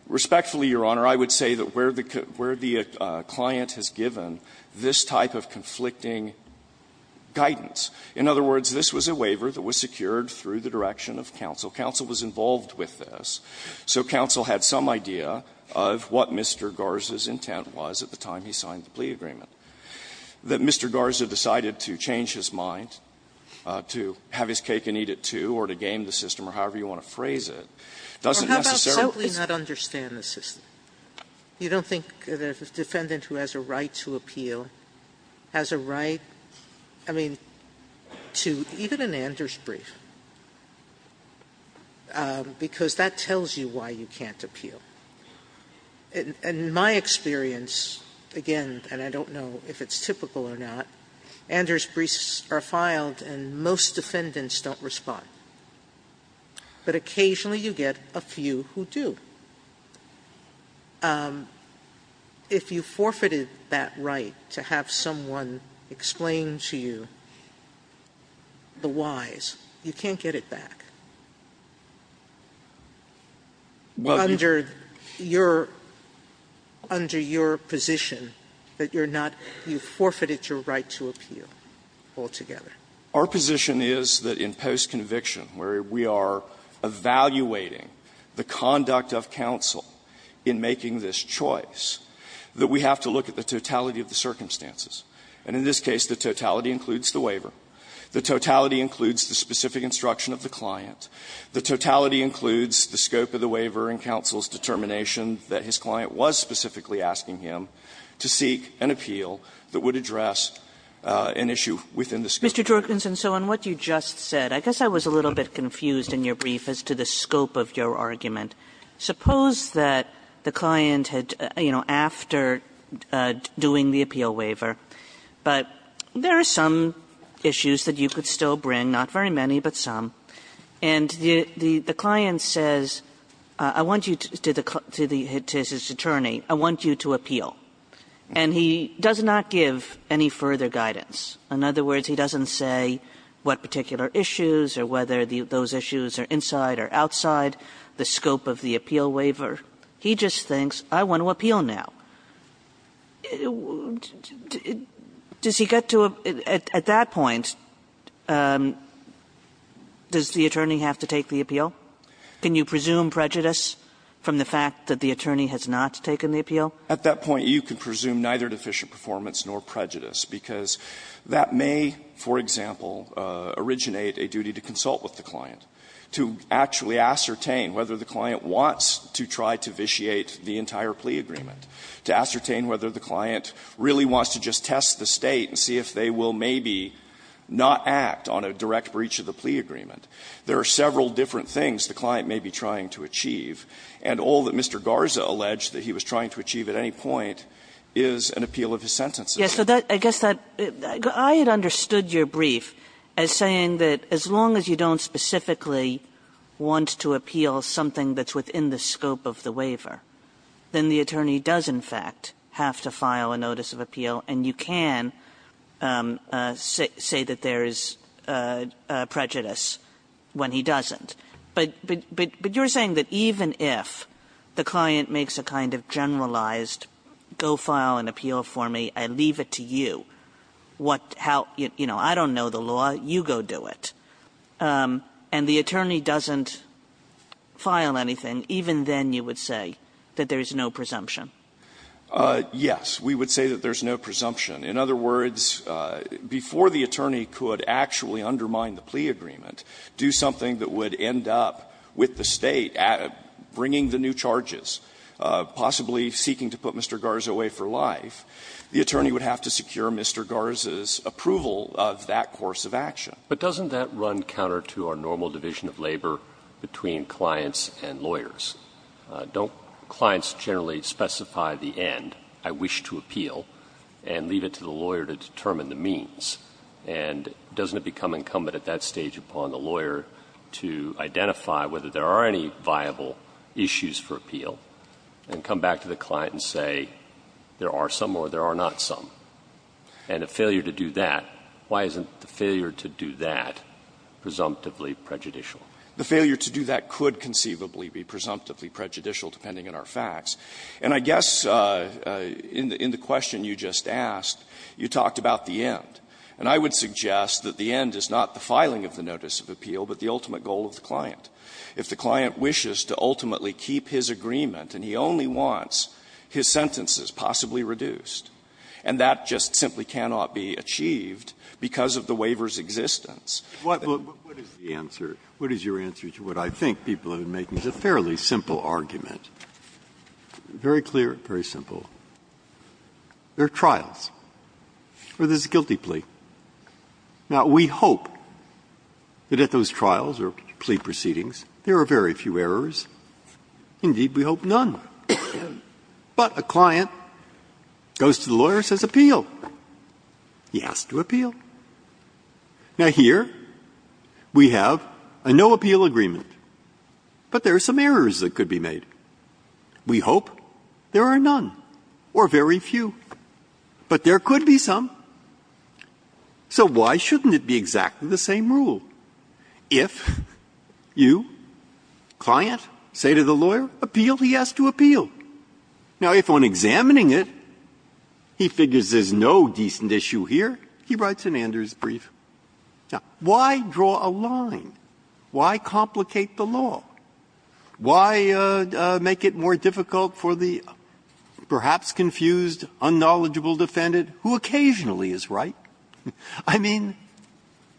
Respectfully, Your Honor, I would say that where the client has given this type of conflicting guidance, in other words, this was a waiver that was secured through the direction of counsel. Counsel was involved with this, so counsel had some idea of what Mr. Garza's intent was at the time he signed the plea agreement. That Mr. Garza decided to change his mind, to have his cake and eat it, too, or to game the system, or however you want to phrase it, doesn't necessarily explain it. Sotomayor, you don't think the defendant who has a right to appeal has a right to appeal to even an Anders brief? Because that tells you why you can't appeal. In my experience, again, and I don't know if it's typical or not, Anders briefs are filed and most defendants don't respond. But occasionally you get a few who do. Sotomayor, if you forfeited that right to have someone explain to you the whys, you can't get it back under your position that you're not, you forfeited your right to appeal altogether. Our position is that in post-conviction, where we are evaluating the conduct of a defendant of counsel in making this choice, that we have to look at the totality of the circumstances. And in this case, the totality includes the waiver. The totality includes the specific instruction of the client. The totality includes the scope of the waiver and counsel's determination that his client was specifically asking him to seek an appeal that would address an issue within the scope of the waiver. Kagan, so on what you just said, I guess I was a little bit confused in your brief as to the scope of your argument. Suppose that the client had, you know, after doing the appeal waiver, but there are some issues that you could still bring, not very many, but some. And the client says, I want you to the attorney, I want you to appeal. And he does not give any further guidance. In other words, he doesn't say what particular issues or whether those issues are inside or outside the scope of the appeal waiver. He just thinks, I want to appeal now. Does he get to a – at that point, does the attorney have to take the appeal? Can you presume prejudice from the fact that the attorney has not taken the appeal? At that point, you can presume neither deficient performance nor prejudice, because that may, for example, originate a duty to consult with the client, to look at the case, to actually ascertain whether the client wants to try to vitiate the entire plea agreement, to ascertain whether the client really wants to just test the State and see if they will maybe not act on a direct breach of the plea agreement. There are several different things the client may be trying to achieve, and all that Mr. Garza alleged that he was trying to achieve at any point is an appeal of his sentences. Yes. So I guess that – I had understood your brief as saying that as long as you don't specifically want to appeal something that's within the scope of the waiver, then the attorney does, in fact, have to file a notice of appeal, and you can say that there is prejudice when he doesn't. But you're saying that even if the client makes a kind of generalized, go file an appeal for me, I leave it to you, what, how, you know, I don't know the law, you go do it, and the attorney doesn't file anything, even then you would say that there is no presumption. Yes. We would say that there is no presumption. In other words, before the attorney could actually undermine the plea agreement, do something that would end up with the State bringing the new charges, possibly seeking to put Mr. Garza away for life, the attorney would have to secure Mr. Garza's approval of that course of action. But doesn't that run counter to our normal division of labor between clients and lawyers? Don't clients generally specify the end, I wish to appeal, and leave it to the lawyer to determine the means? And doesn't it become incumbent at that stage upon the lawyer to identify whether there are any viable issues for appeal, and come back to the client and say, there are some or there are not some? And a failure to do that, why isn't the failure to do that presumptively prejudicial? The failure to do that could conceivably be presumptively prejudicial, depending on our facts. And I guess in the question you just asked, you talked about the end. And I would suggest that the end is not the filing of the notice of appeal, but the ultimate goal of the client. If the client wishes to ultimately keep his agreement, and he only wants his sentences possibly reduced, and that just simply cannot be achieved because of the waiver's existence. Breyer, what is the answer? What is your answer to what I think people are making? It's a fairly simple argument, very clear, very simple. There are trials for this guilty plea. Now, we hope that at those trials or plea proceedings, there are very few errors. Indeed, we hope none. But a client goes to the lawyer and says, appeal. He has to appeal. Now, here we have a no appeal agreement, but there are some errors that could be made. We hope there are none or very few. But there could be some. So why shouldn't it be exactly the same rule? If you, client, say to the lawyer, appeal, he has to appeal. Now, if on examining it, he figures there's no decent issue here, he writes an Andrews brief. Now, why draw a line? Why complicate the law? Why make it more difficult for the perhaps confused, unknowledgeable defendant who occasionally is right? I mean,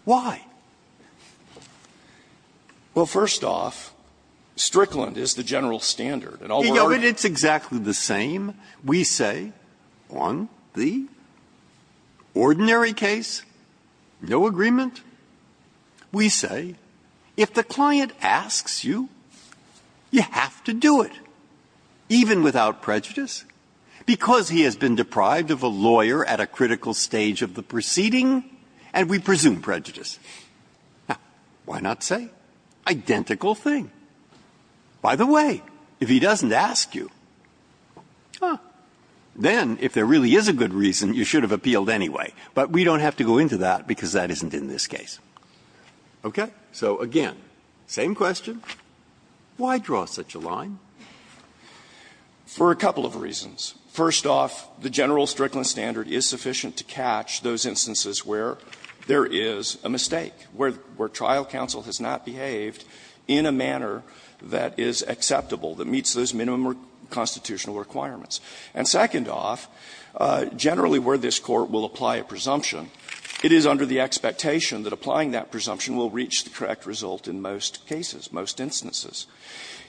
why? Well, first off, Strickland is the general standard. And all the others are not. It's exactly the same. We say on the ordinary case, no agreement. We say if the client asks you, you have to do it, even without prejudice, because he has been deprived of a lawyer at a critical stage of the proceeding, and we presume prejudice. Why not say identical thing? By the way, if he doesn't ask you, then if there really is a good reason, you should have appealed anyway. But we don't have to go into that, because that isn't in this case. Okay? So again, same question. Why draw such a line? For a couple of reasons. First off, the general Strickland standard is sufficient to catch those instances where there is a mistake, where trial counsel has not behaved in a manner that is acceptable, that meets those minimum constitutional requirements. And second off, generally where this Court will apply a presumption, it is under the expectation that applying that presumption will reach the correct result in most cases, most instances.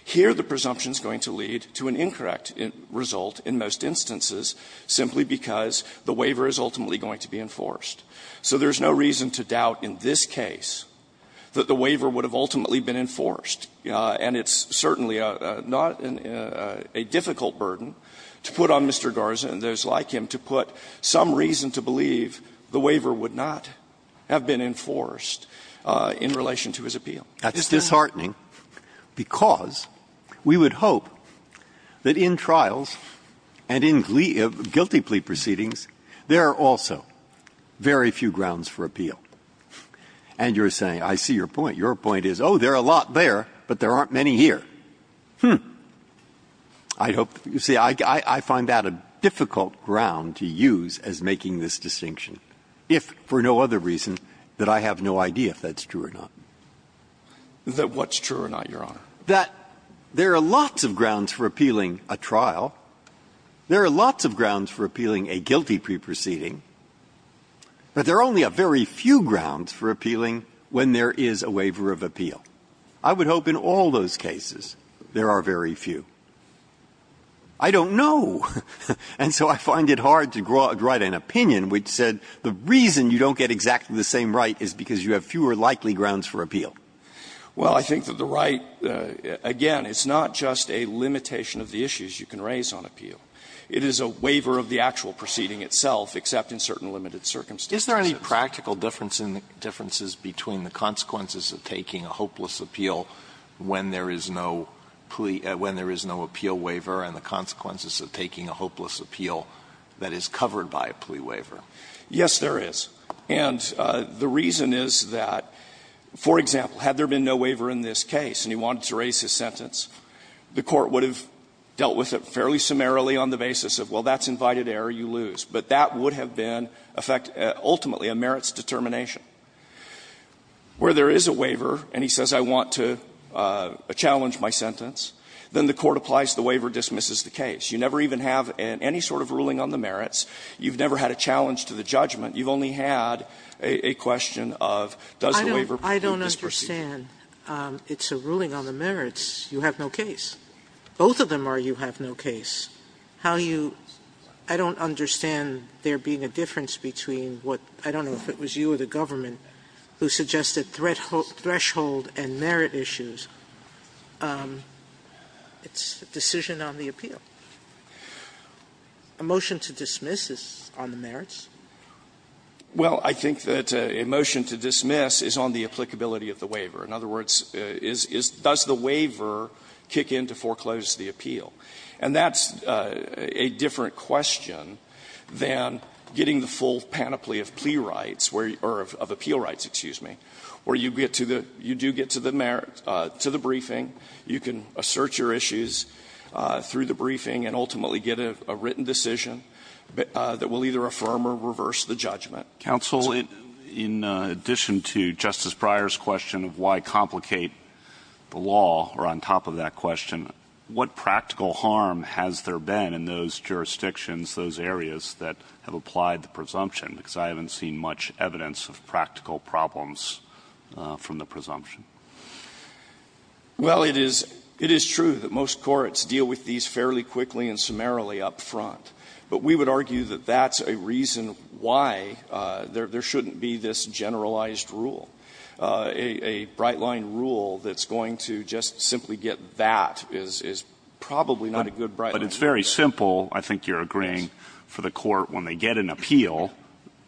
Here, the presumption is going to lead to an incorrect result in most instances simply because the waiver is ultimately going to be enforced. So there is no reason to doubt in this case that the waiver would have ultimately been enforced. And it's certainly not a difficult burden to put on Mr. Garza and those like him to put some reason to believe the waiver would not have been enforced in relation to his appeal. Breyer. Breyer. That's disheartening, because we would hope that in trials and in guilty plea proceedings, there are also very few grounds for appeal. And you're saying, I see your point. Your point is, oh, there are a lot there, but there aren't many here. Hmm. I hope you see, I find that a difficult ground to use as making this distinction, if for no other reason that I have no idea if that's true or not. That what's true or not, Your Honor? That there are lots of grounds for appealing a trial. There are lots of grounds for appealing a guilty plea proceeding. But there are only a very few grounds for appealing when there is a waiver of appeal. I would hope in all those cases there are very few. I don't know. And so I find it hard to draw an opinion which said the reason you don't get exactly the same right is because you have fewer likely grounds for appeal. Well, I think that the right, again, it's not just a limitation of the issues you can raise on appeal. It is a waiver of the actual proceeding itself, except in certain limited circumstances. Is there any practical differences between the consequences of taking a hopeless appeal when there is no plea, when there is no appeal waiver, and the consequences of taking a hopeless appeal that is covered by a plea waiver? Yes, there is. And the reason is that, for example, had there been no waiver in this case and he wanted to raise his sentence, the Court would have dealt with it fairly summarily on the basis of, well, that's invited error, you lose. But that would have been, ultimately, a merits determination. Where there is a waiver and he says I want to challenge my sentence, then the Court applies, the waiver dismisses the case. You never even have any sort of ruling on the merits. You've never had a challenge to the judgment. You've only had a question of does the waiver prove disproced? Sotomayor, I understand it's a ruling on the merits. You have no case. Both of them are you have no case. How you don't understand there being a difference between what, I don't know if it was you or the government, who suggested threshold and merit issues. It's a decision on the appeal. A motion to dismiss is on the merits. Well, I think that a motion to dismiss is on the applicability of the waiver. In other words, does the waiver kick in to foreclose the appeal? And that's a different question than getting the full panoply of plea rights or of appeal rights, excuse me, where you get to the, you do get to the merits, to the briefing, you can assert your issues through the briefing and ultimately get a written decision that will either affirm or reverse the judgment. Counsel, in addition to Justice Breyer's question of why complicate the law, or on top of that question, what practical harm has there been in those jurisdictions, those areas that have applied the presumption? Because I haven't seen much evidence of practical problems from the presumption. Well, it is true that most courts deal with these fairly quickly and summarily up front, but we would argue that that's a reason why there shouldn't be this generalized rule. A Brightline rule that's going to just simply get that is probably not a good Brightline rule. But it's very simple, I think you're agreeing, for the court when they get an appeal.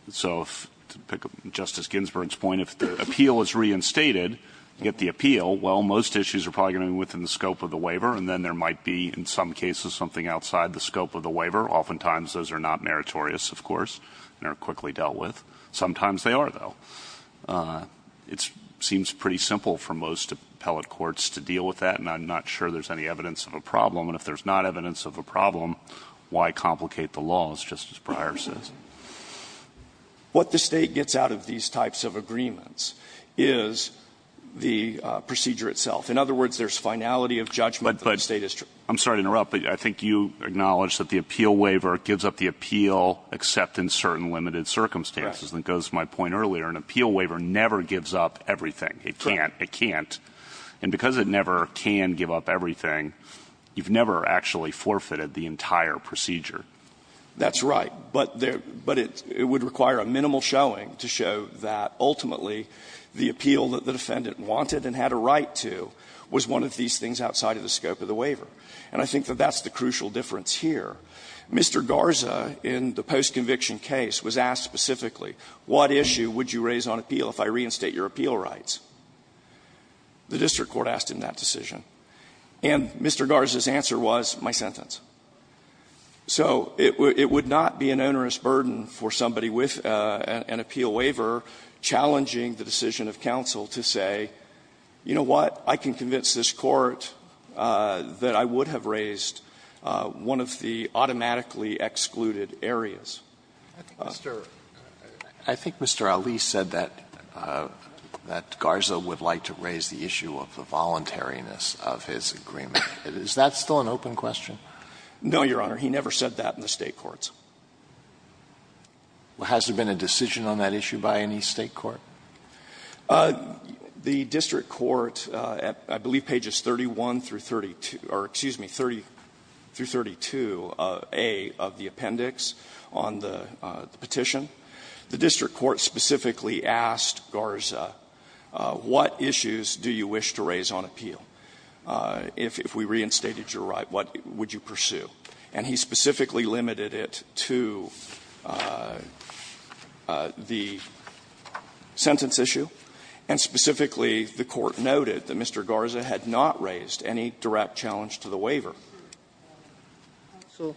So to pick up Justice Ginsburg's point, if the appeal is reinstated, you get the appeal. Well, most issues are probably going to be within the scope of the waiver, and then there might be, in some cases, something outside the scope of the waiver. Oftentimes those are not meritorious, of course, and are quickly dealt with. Sometimes they are, though. It seems pretty simple for most appellate courts to deal with that, and I'm not sure there's any evidence of a problem, and if there's not evidence of a problem, why complicate the law, as Justice Breyer says? What the State gets out of these types of agreements is the procedure itself. In other words, there's finality of judgment that the State is trying to do. But I'm sorry to interrupt, but I think you acknowledge that the appeal waiver gives up the appeal except in certain limited circumstances. That goes to my point earlier, an appeal waiver never gives up everything. It can't. It can't. And because it never can give up everything, you've never actually forfeited the entire procedure. That's right. But it would require a minimal showing to show that, ultimately, the appeal that the was one of these things outside of the scope of the waiver. And I think that that's the crucial difference here. Mr. Garza, in the postconviction case, was asked specifically, what issue would you raise on appeal if I reinstate your appeal rights? The district court asked him that decision. And Mr. Garza's answer was, my sentence. So it would not be an onerous burden for somebody with an appeal waiver challenging the decision of counsel to say, you know what, I can convince this Court that I would have raised one of the automatically excluded areas. I think Mr. Ali said that Garza would like to raise the issue of the voluntariness of his agreement. Is that still an open question? No, Your Honor. He never said that in the State courts. Has there been a decision on that issue by any State court? The district court, I believe pages 31 through 32, or excuse me, 30 through 32a of the appendix on the petition, the district court specifically asked Garza, what issues do you wish to raise on appeal? If we reinstated your right, what would you pursue? And he specifically limited it to the sentence issue. And specifically, the Court noted that Mr. Garza had not raised any direct challenge to the waiver. Sotomayor,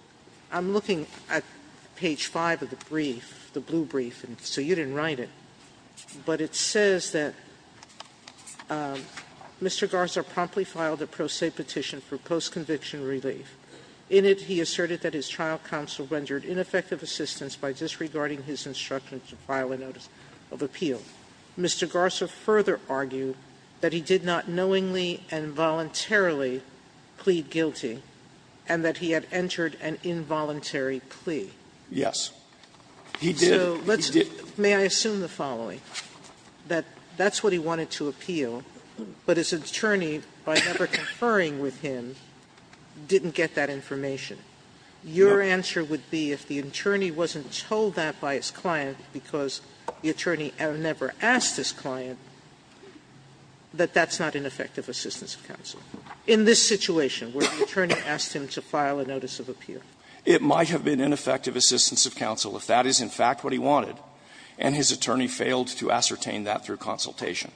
I'm looking at page 5 of the brief, the blue brief, and so you didn't write it, but it says that Mr. Garza promptly filed a pro se petition for post-conviction relief. In it, he asserted that his trial counsel rendered ineffective assistance by disregarding his instructions to file a notice of appeal. Mr. Garza further argued that he did not knowingly and voluntarily plead guilty and that he had entered an involuntary plea. Yes. He did. May I assume the following? That that's what he wanted to appeal, but his attorney, by never conferring with him, didn't get that information. Your answer would be if the attorney wasn't told that by his client because the attorney never asked his client, that that's not ineffective assistance of counsel in this situation where the attorney asked him to file a notice of appeal. It might have been ineffective assistance of counsel if that is in fact what he wanted, and his attorney failed to ascertain that through consultation.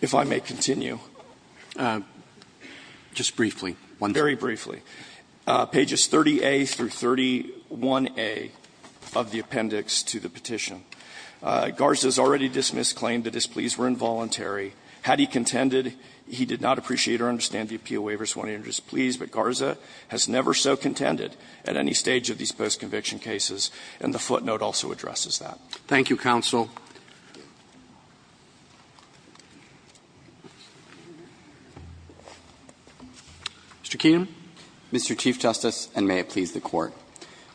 If I may continue. Just briefly. Very briefly. Pages 30A through 31A of the appendix to the petition. Garza has already dismissed claim that his pleas were involuntary. Had he contended, he did not appreciate or understand the appeal waiver, so he wanted to enter his pleas, but Garza has never so contended at any stage of these post-conviction cases, and the footnote also addresses that. Thank you, counsel. Mr. Keenum. Mr. Chief Justice, and may it please the Court.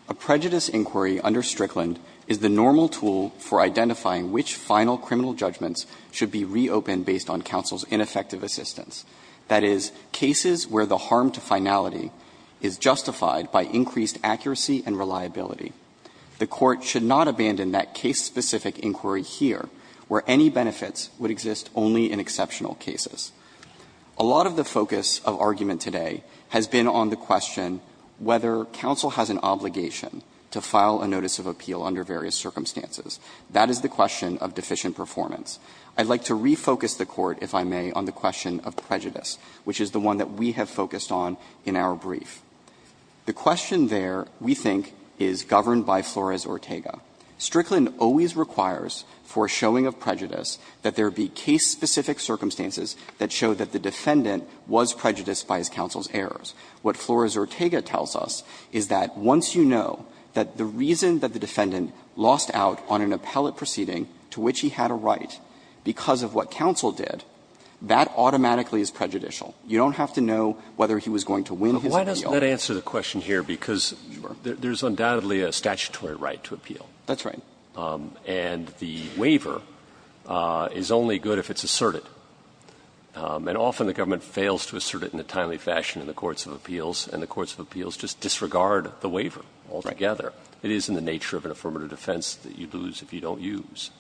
A prejudice inquiry under Strickland is the normal tool for identifying which final criminal judgments should be reopened based on counsel's ineffective assistance, that is, cases where the harm to finality is justified by increased accuracy and reliability. The Court should not abandon that case-specific inquiry here, where any benefits would exist only in exceptional cases. A lot of the focus of argument today has been on the question whether counsel has an obligation to file a notice of appeal under various circumstances. That is the question of deficient performance. I'd like to refocus the Court, if I may, on the question of prejudice, which is the one that we have focused on in our brief. The question there, we think, is governed by Flores-Ortega. Strickland always requires for showing of prejudice that there be case-specific circumstances that show that the defendant was prejudiced by his counsel's errors. What Flores-Ortega tells us is that once you know that the reason that the defendant lost out on an appellate proceeding to which he had a right because of what counsel did, that automatically is prejudicial. You don't have to know whether he was going to win his appeal. That answers the question here, because there's undoubtedly a statutory right to appeal. That's right. And the waiver is only good if it's asserted. And often the government fails to assert it in a timely fashion in the courts of appeals, and the courts of appeals just disregard the waiver altogether. It is in the nature of an affirmative defense that you lose if you don't use.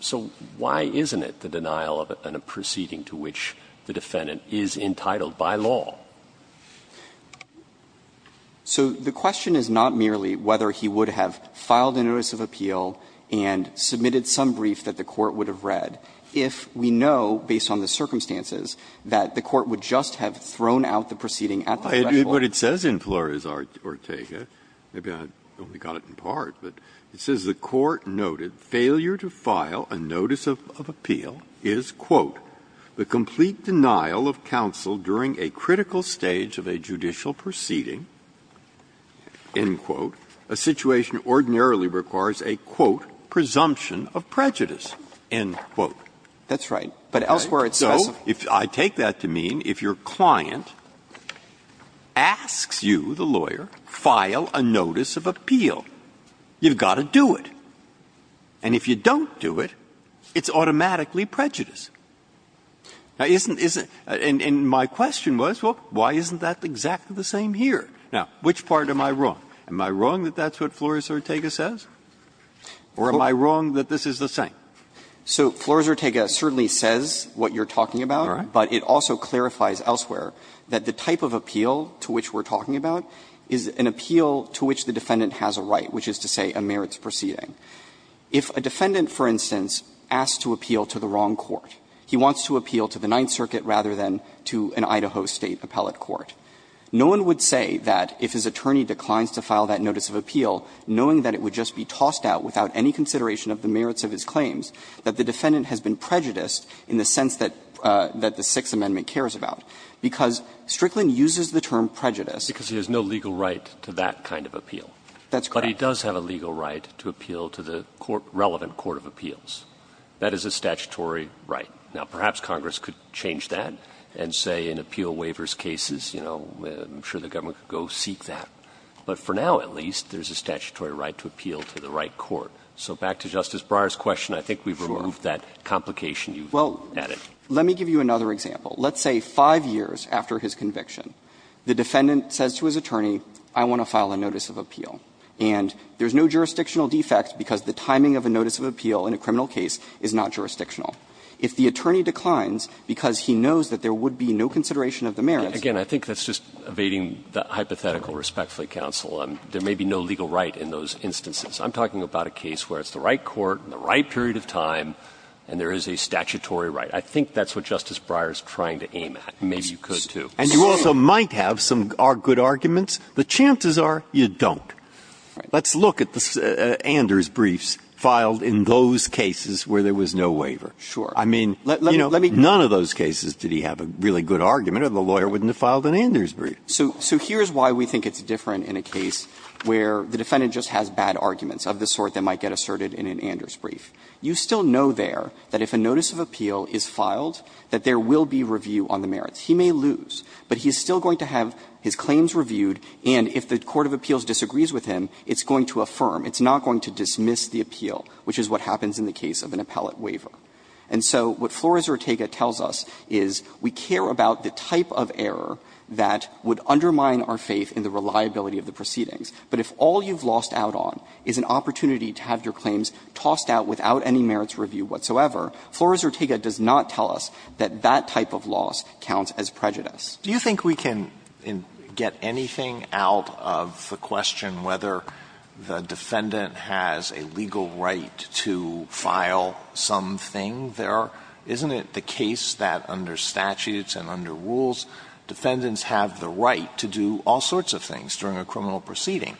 So why isn't it the denial of a proceeding to which the defendant is entitled by law? So the question is not merely whether he would have filed a notice of appeal and submitted some brief that the Court would have read if we know, based on the circumstances, that the Court would just have thrown out the proceeding at the threshold. Breyer. But it says in Flores-Ortega, maybe I only got it in part, but it says the Court noted failure to file a notice of appeal is, quote, the complete denial of counsel during a critical stage of a judicial proceeding, end quote, a situation ordinarily requires a, quote, presumption of prejudice, end quote. That's right. But elsewhere it's specific. So I take that to mean if your client asks you, the lawyer, file a notice of appeal, you've got to do it. And if you don't do it, it's automatically prejudice. Now, isn't this the question was, well, why isn't that exactly the same here? Now, which part am I wrong? Am I wrong that that's what Flores-Ortega says, or am I wrong that this is the same? So Flores-Ortega certainly says what you're talking about, but it also clarifies elsewhere that the type of appeal to which we're talking about is an appeal to which the defendant has a right, which is to say a merits proceeding. If a defendant, for instance, asks to appeal to the wrong court, he wants to appeal to the Ninth Circuit rather than to an Idaho State appellate court, no one would say that if his attorney declines to file that notice of appeal, knowing that it would just be tossed out without any consideration of the merits of his claims, that the defendant has been prejudiced in the sense that the Sixth Amendment cares about. Because Strickland uses the term prejudice. Because he has no legal right to that kind of appeal. That's correct. But he does have a legal right to appeal to the court, relevant court of appeals. That is a statutory right. Now, perhaps Congress could change that and say in appeal waivers cases, you know, I'm sure the government could go seek that. But for now, at least, there's a statutory right to appeal to the right court. So back to Justice Breyer's question, I think we've removed that complication you've added. Well, let me give you another example. Let's say 5 years after his conviction, the defendant says to his attorney, I want to file a notice of appeal. And there's no jurisdictional defect because the timing of a notice of appeal in a criminal case is not jurisdictional. If the attorney declines because he knows that there would be no consideration of the merits. Again, I think that's just evading the hypothetical respectfully, counsel. There may be no legal right in those instances. I'm talking about a case where it's the right court in the right period of time, and there is a statutory right. I think that's what Justice Breyer is trying to aim at. Maybe you could, too. And you also might have some good arguments. The chances are you don't. Let's look at the Anders briefs filed in those cases where there was no waiver. I mean, you know, none of those cases did he have a really good argument, or the lawyer wouldn't have filed an Anders brief. So here's why we think it's different in a case where the defendant just has bad arguments of the sort that might get asserted in an Anders brief. You still know there that if a notice of appeal is filed, that there will be review on the merits. He may lose, but he's still going to have his claims reviewed, and if the court of appeals disagrees with him, it's going to affirm. It's not going to dismiss the appeal, which is what happens in the case of an appellate waiver. And so what Flores-Ortega tells us is we care about the type of error that would undermine our faith in the reliability of the proceedings. But if all you've lost out on is an opportunity to have your claims tossed out without any merits review whatsoever, Flores-Ortega does not tell us that that type of loss counts as prejudice. Alitoson Do you think we can get anything out of the question whether the defendant has a legal right to file something there? Isn't it the case that under statutes and under rules, defendants have the right to do all sorts of things during a criminal proceeding,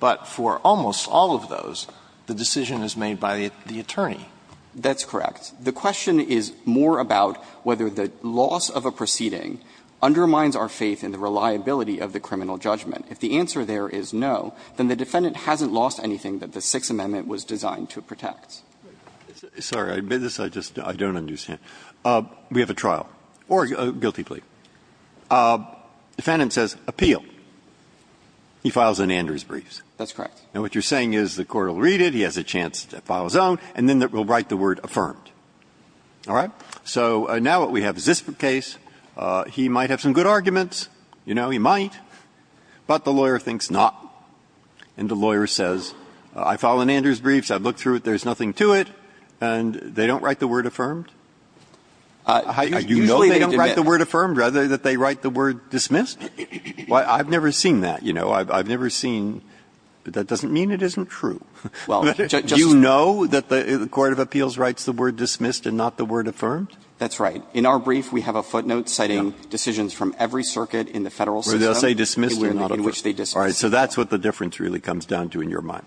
but for almost all of those, the decision is made by the attorney? That's correct. The question is more about whether the loss of a proceeding undermines our faith in the reliability of the criminal judgment. If the answer there is no, then the defendant hasn't lost anything that the Sixth Amendment was designed to protect. Breyer, this I just don't understand. We have a trial, or a guilty plea. Defendant says appeal. He files an Andrews brief. That's correct. And what you're saying is the court will read it, he has a chance to file his own, and then it will write the word affirmed. All right? So now what we have is this case. He might have some good arguments. You know, he might. But the lawyer thinks not. And the lawyer says, I file an Andrews brief, so I've looked through it, there's nothing to it, and they don't write the word affirmed? I usually don't write the word affirmed. Rather, that they write the word dismissed? I've never seen that, you know. I've never seen that. But that doesn't mean it isn't true. Well, just so you know, the court of appeals writes the word dismissed and not the word affirmed? That's right. In our brief, we have a footnote citing decisions from every circuit in the Federal system in which they dismiss. All right. So that's what the difference really comes down to in your mind.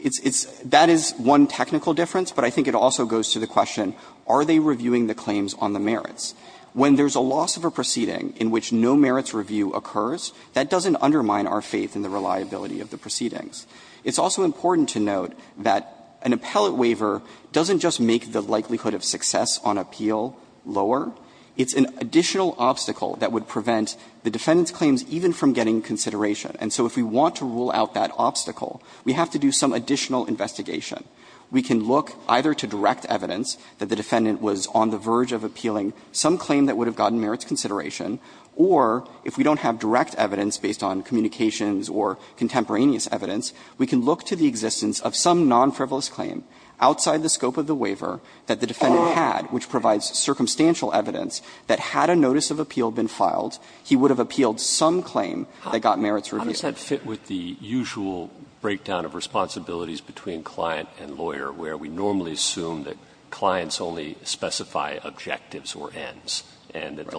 It's that is one technical difference, but I think it also goes to the question, are they reviewing the claims on the merits? When there's a loss of a proceeding in which no merits review occurs, that doesn't undermine our faith in the reliability of the proceedings. It's also important to note that an appellate waiver doesn't just make the likelihood of success on appeal lower. It's an additional obstacle that would prevent the defendant's claims even from getting consideration. And so if we want to rule out that obstacle, we have to do some additional investigation. We can look either to direct evidence that the defendant was on the verge of appealing some claim that would have gotten merits consideration, or if we don't have direct evidence based on communications or contemporaneous evidence, we can look to the existence of some non-frivolous claim outside the scope of the waiver that the defendant had, which provides circumstantial evidence that had a notice of appeal been filed, he would have appealed some claim that got merits review. I'm just not fit with the usual breakdown of responsibilities between client and lawyer, where we normally assume that clients only specify objectives or ends, and that the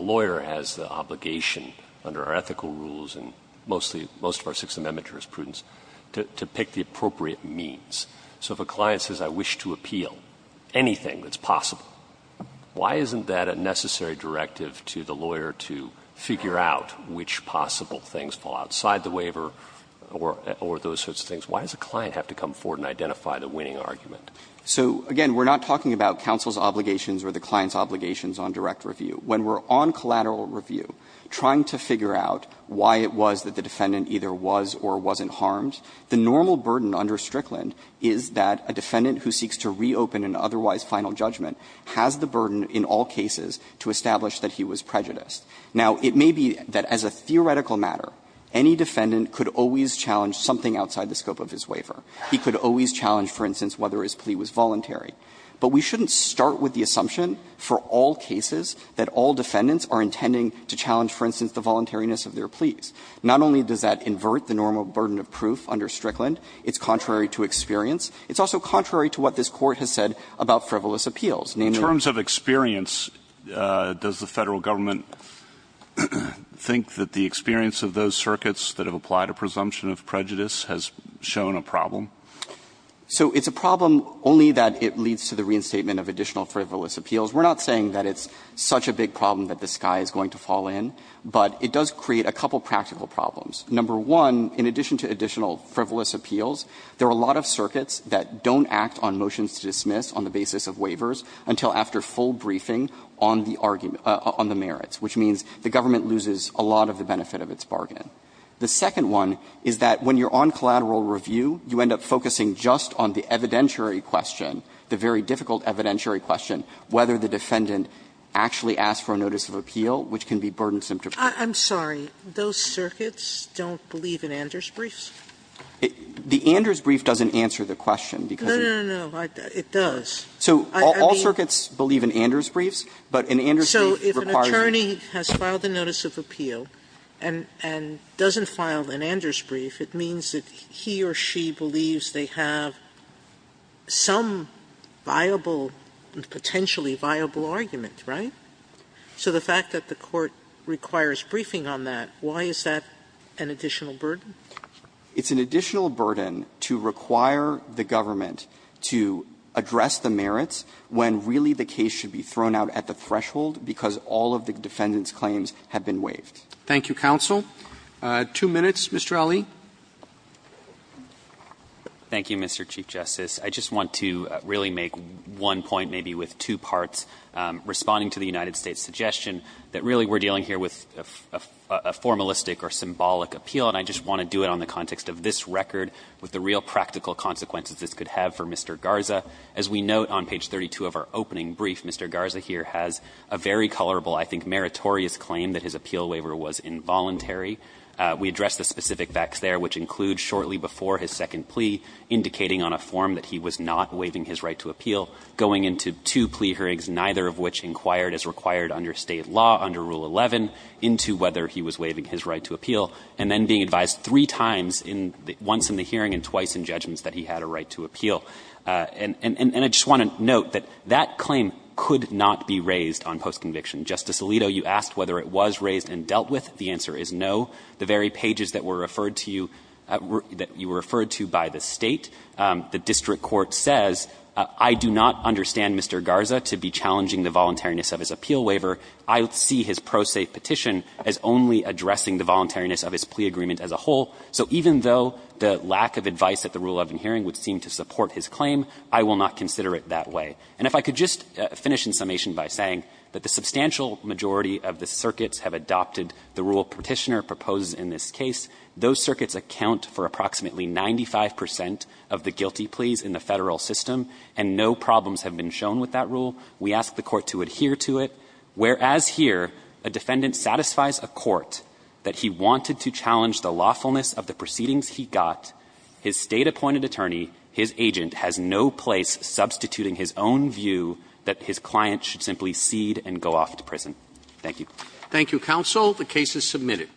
most of our Sixth Amendment jurisprudence, to pick the appropriate means. So if a client says, I wish to appeal anything that's possible, why isn't that a necessary directive to the lawyer to figure out which possible things fall outside the waiver or those sorts of things? Why does a client have to come forward and identify the winning argument? So, again, we're not talking about counsel's obligations or the client's obligations on direct review. When we're on collateral review, trying to figure out why it was that the defendant either was or wasn't harmed, the normal burden under Strickland is that a defendant who seeks to reopen an otherwise final judgment has the burden in all cases to establish that he was prejudiced. Now, it may be that as a theoretical matter, any defendant could always challenge something outside the scope of his waiver. He could always challenge, for instance, whether his plea was voluntary. But we shouldn't start with the assumption for all cases that all defendants are intending to challenge, for instance, the voluntariness of their pleas. Not only does that invert the normal burden of proof under Strickland, it's contrary to experience. It's also contrary to what this Court has said about frivolous appeals. In terms of experience, does the Federal Government think that the experience of those circuits that have applied a presumption of prejudice has shown a problem? So it's a problem only that it leads to the reinstatement of additional frivolous appeals. We're not saying that it's such a big problem that the sky is going to fall in, but it does create a couple of practical problems. Number one, in addition to additional frivolous appeals, there are a lot of circuits that don't act on motions to dismiss on the basis of waivers until after full briefing on the argument – on the merits, which means the government loses a lot of the benefit of its bargain. The second one is that when you're on collateral review, you end up focusing just on the evidentiary question, the very difficult evidentiary question, whether the defendant actually asked for a notice of appeal, which can be burden-symptom. Sotomayor, I'm sorry, those circuits don't believe in Anders' briefs? The Anders' brief doesn't answer the question, because it does. So all circuits believe in Anders' briefs, but an Anders' brief requires you to be It doesn't file an Anders' brief. It means that he or she believes they have some viable, potentially viable argument. Right? So the fact that the Court requires briefing on that, why is that an additional burden? It's an additional burden to require the government to address the merits when really the case should be thrown out at the threshold, because all of the defendant's claims have been waived. Thank you, counsel. Two minutes. Mr. Ali. Ali. Thank you, Mr. Chief Justice. I just want to really make one point, maybe with two parts, responding to the United States' suggestion that really we're dealing here with a formalistic or symbolic appeal, and I just want to do it on the context of this record with the real practical consequences this could have for Mr. Garza. As we note on page 32 of our opening brief, Mr. Garza here has a very colorable, I think, meritorious claim that his appeal waiver was involuntary. We address the specific facts there, which include shortly before his second plea, indicating on a form that he was not waiving his right to appeal, going into two plea hearings, neither of which inquired as required under State law under Rule 11, into whether he was waiving his right to appeal, and then being advised three times once in the hearing and twice in judgments that he had a right to appeal. And I just want to note that that claim could not be raised on postconviction. Justice Alito, you asked whether it was raised and dealt with. The answer is no. The very pages that were referred to you, that you were referred to by the State, the district court says, I do not understand Mr. Garza to be challenging the voluntariness of his appeal waiver. I see his pro se petition as only addressing the voluntariness of his plea agreement as a whole. So even though the lack of advice at the Rule 11 hearing would seem to support his claim, I will not consider it that way. And if I could just finish in summation by saying that the substantial majority of the circuits have adopted the rule Petitioner proposes in this case, those circuits account for approximately 95 percent of the guilty pleas in the Federal system, and no problems have been shown with that rule. We ask the Court to adhere to it, whereas here, a defendant satisfies a court that he wanted to challenge the lawfulness of the proceedings he got, his State-appointed attorney, his agent, has no place substituting his own view that his client should simply cede and go off to prison. Thank you. Roberts. Thank you, counsel. The case is submitted.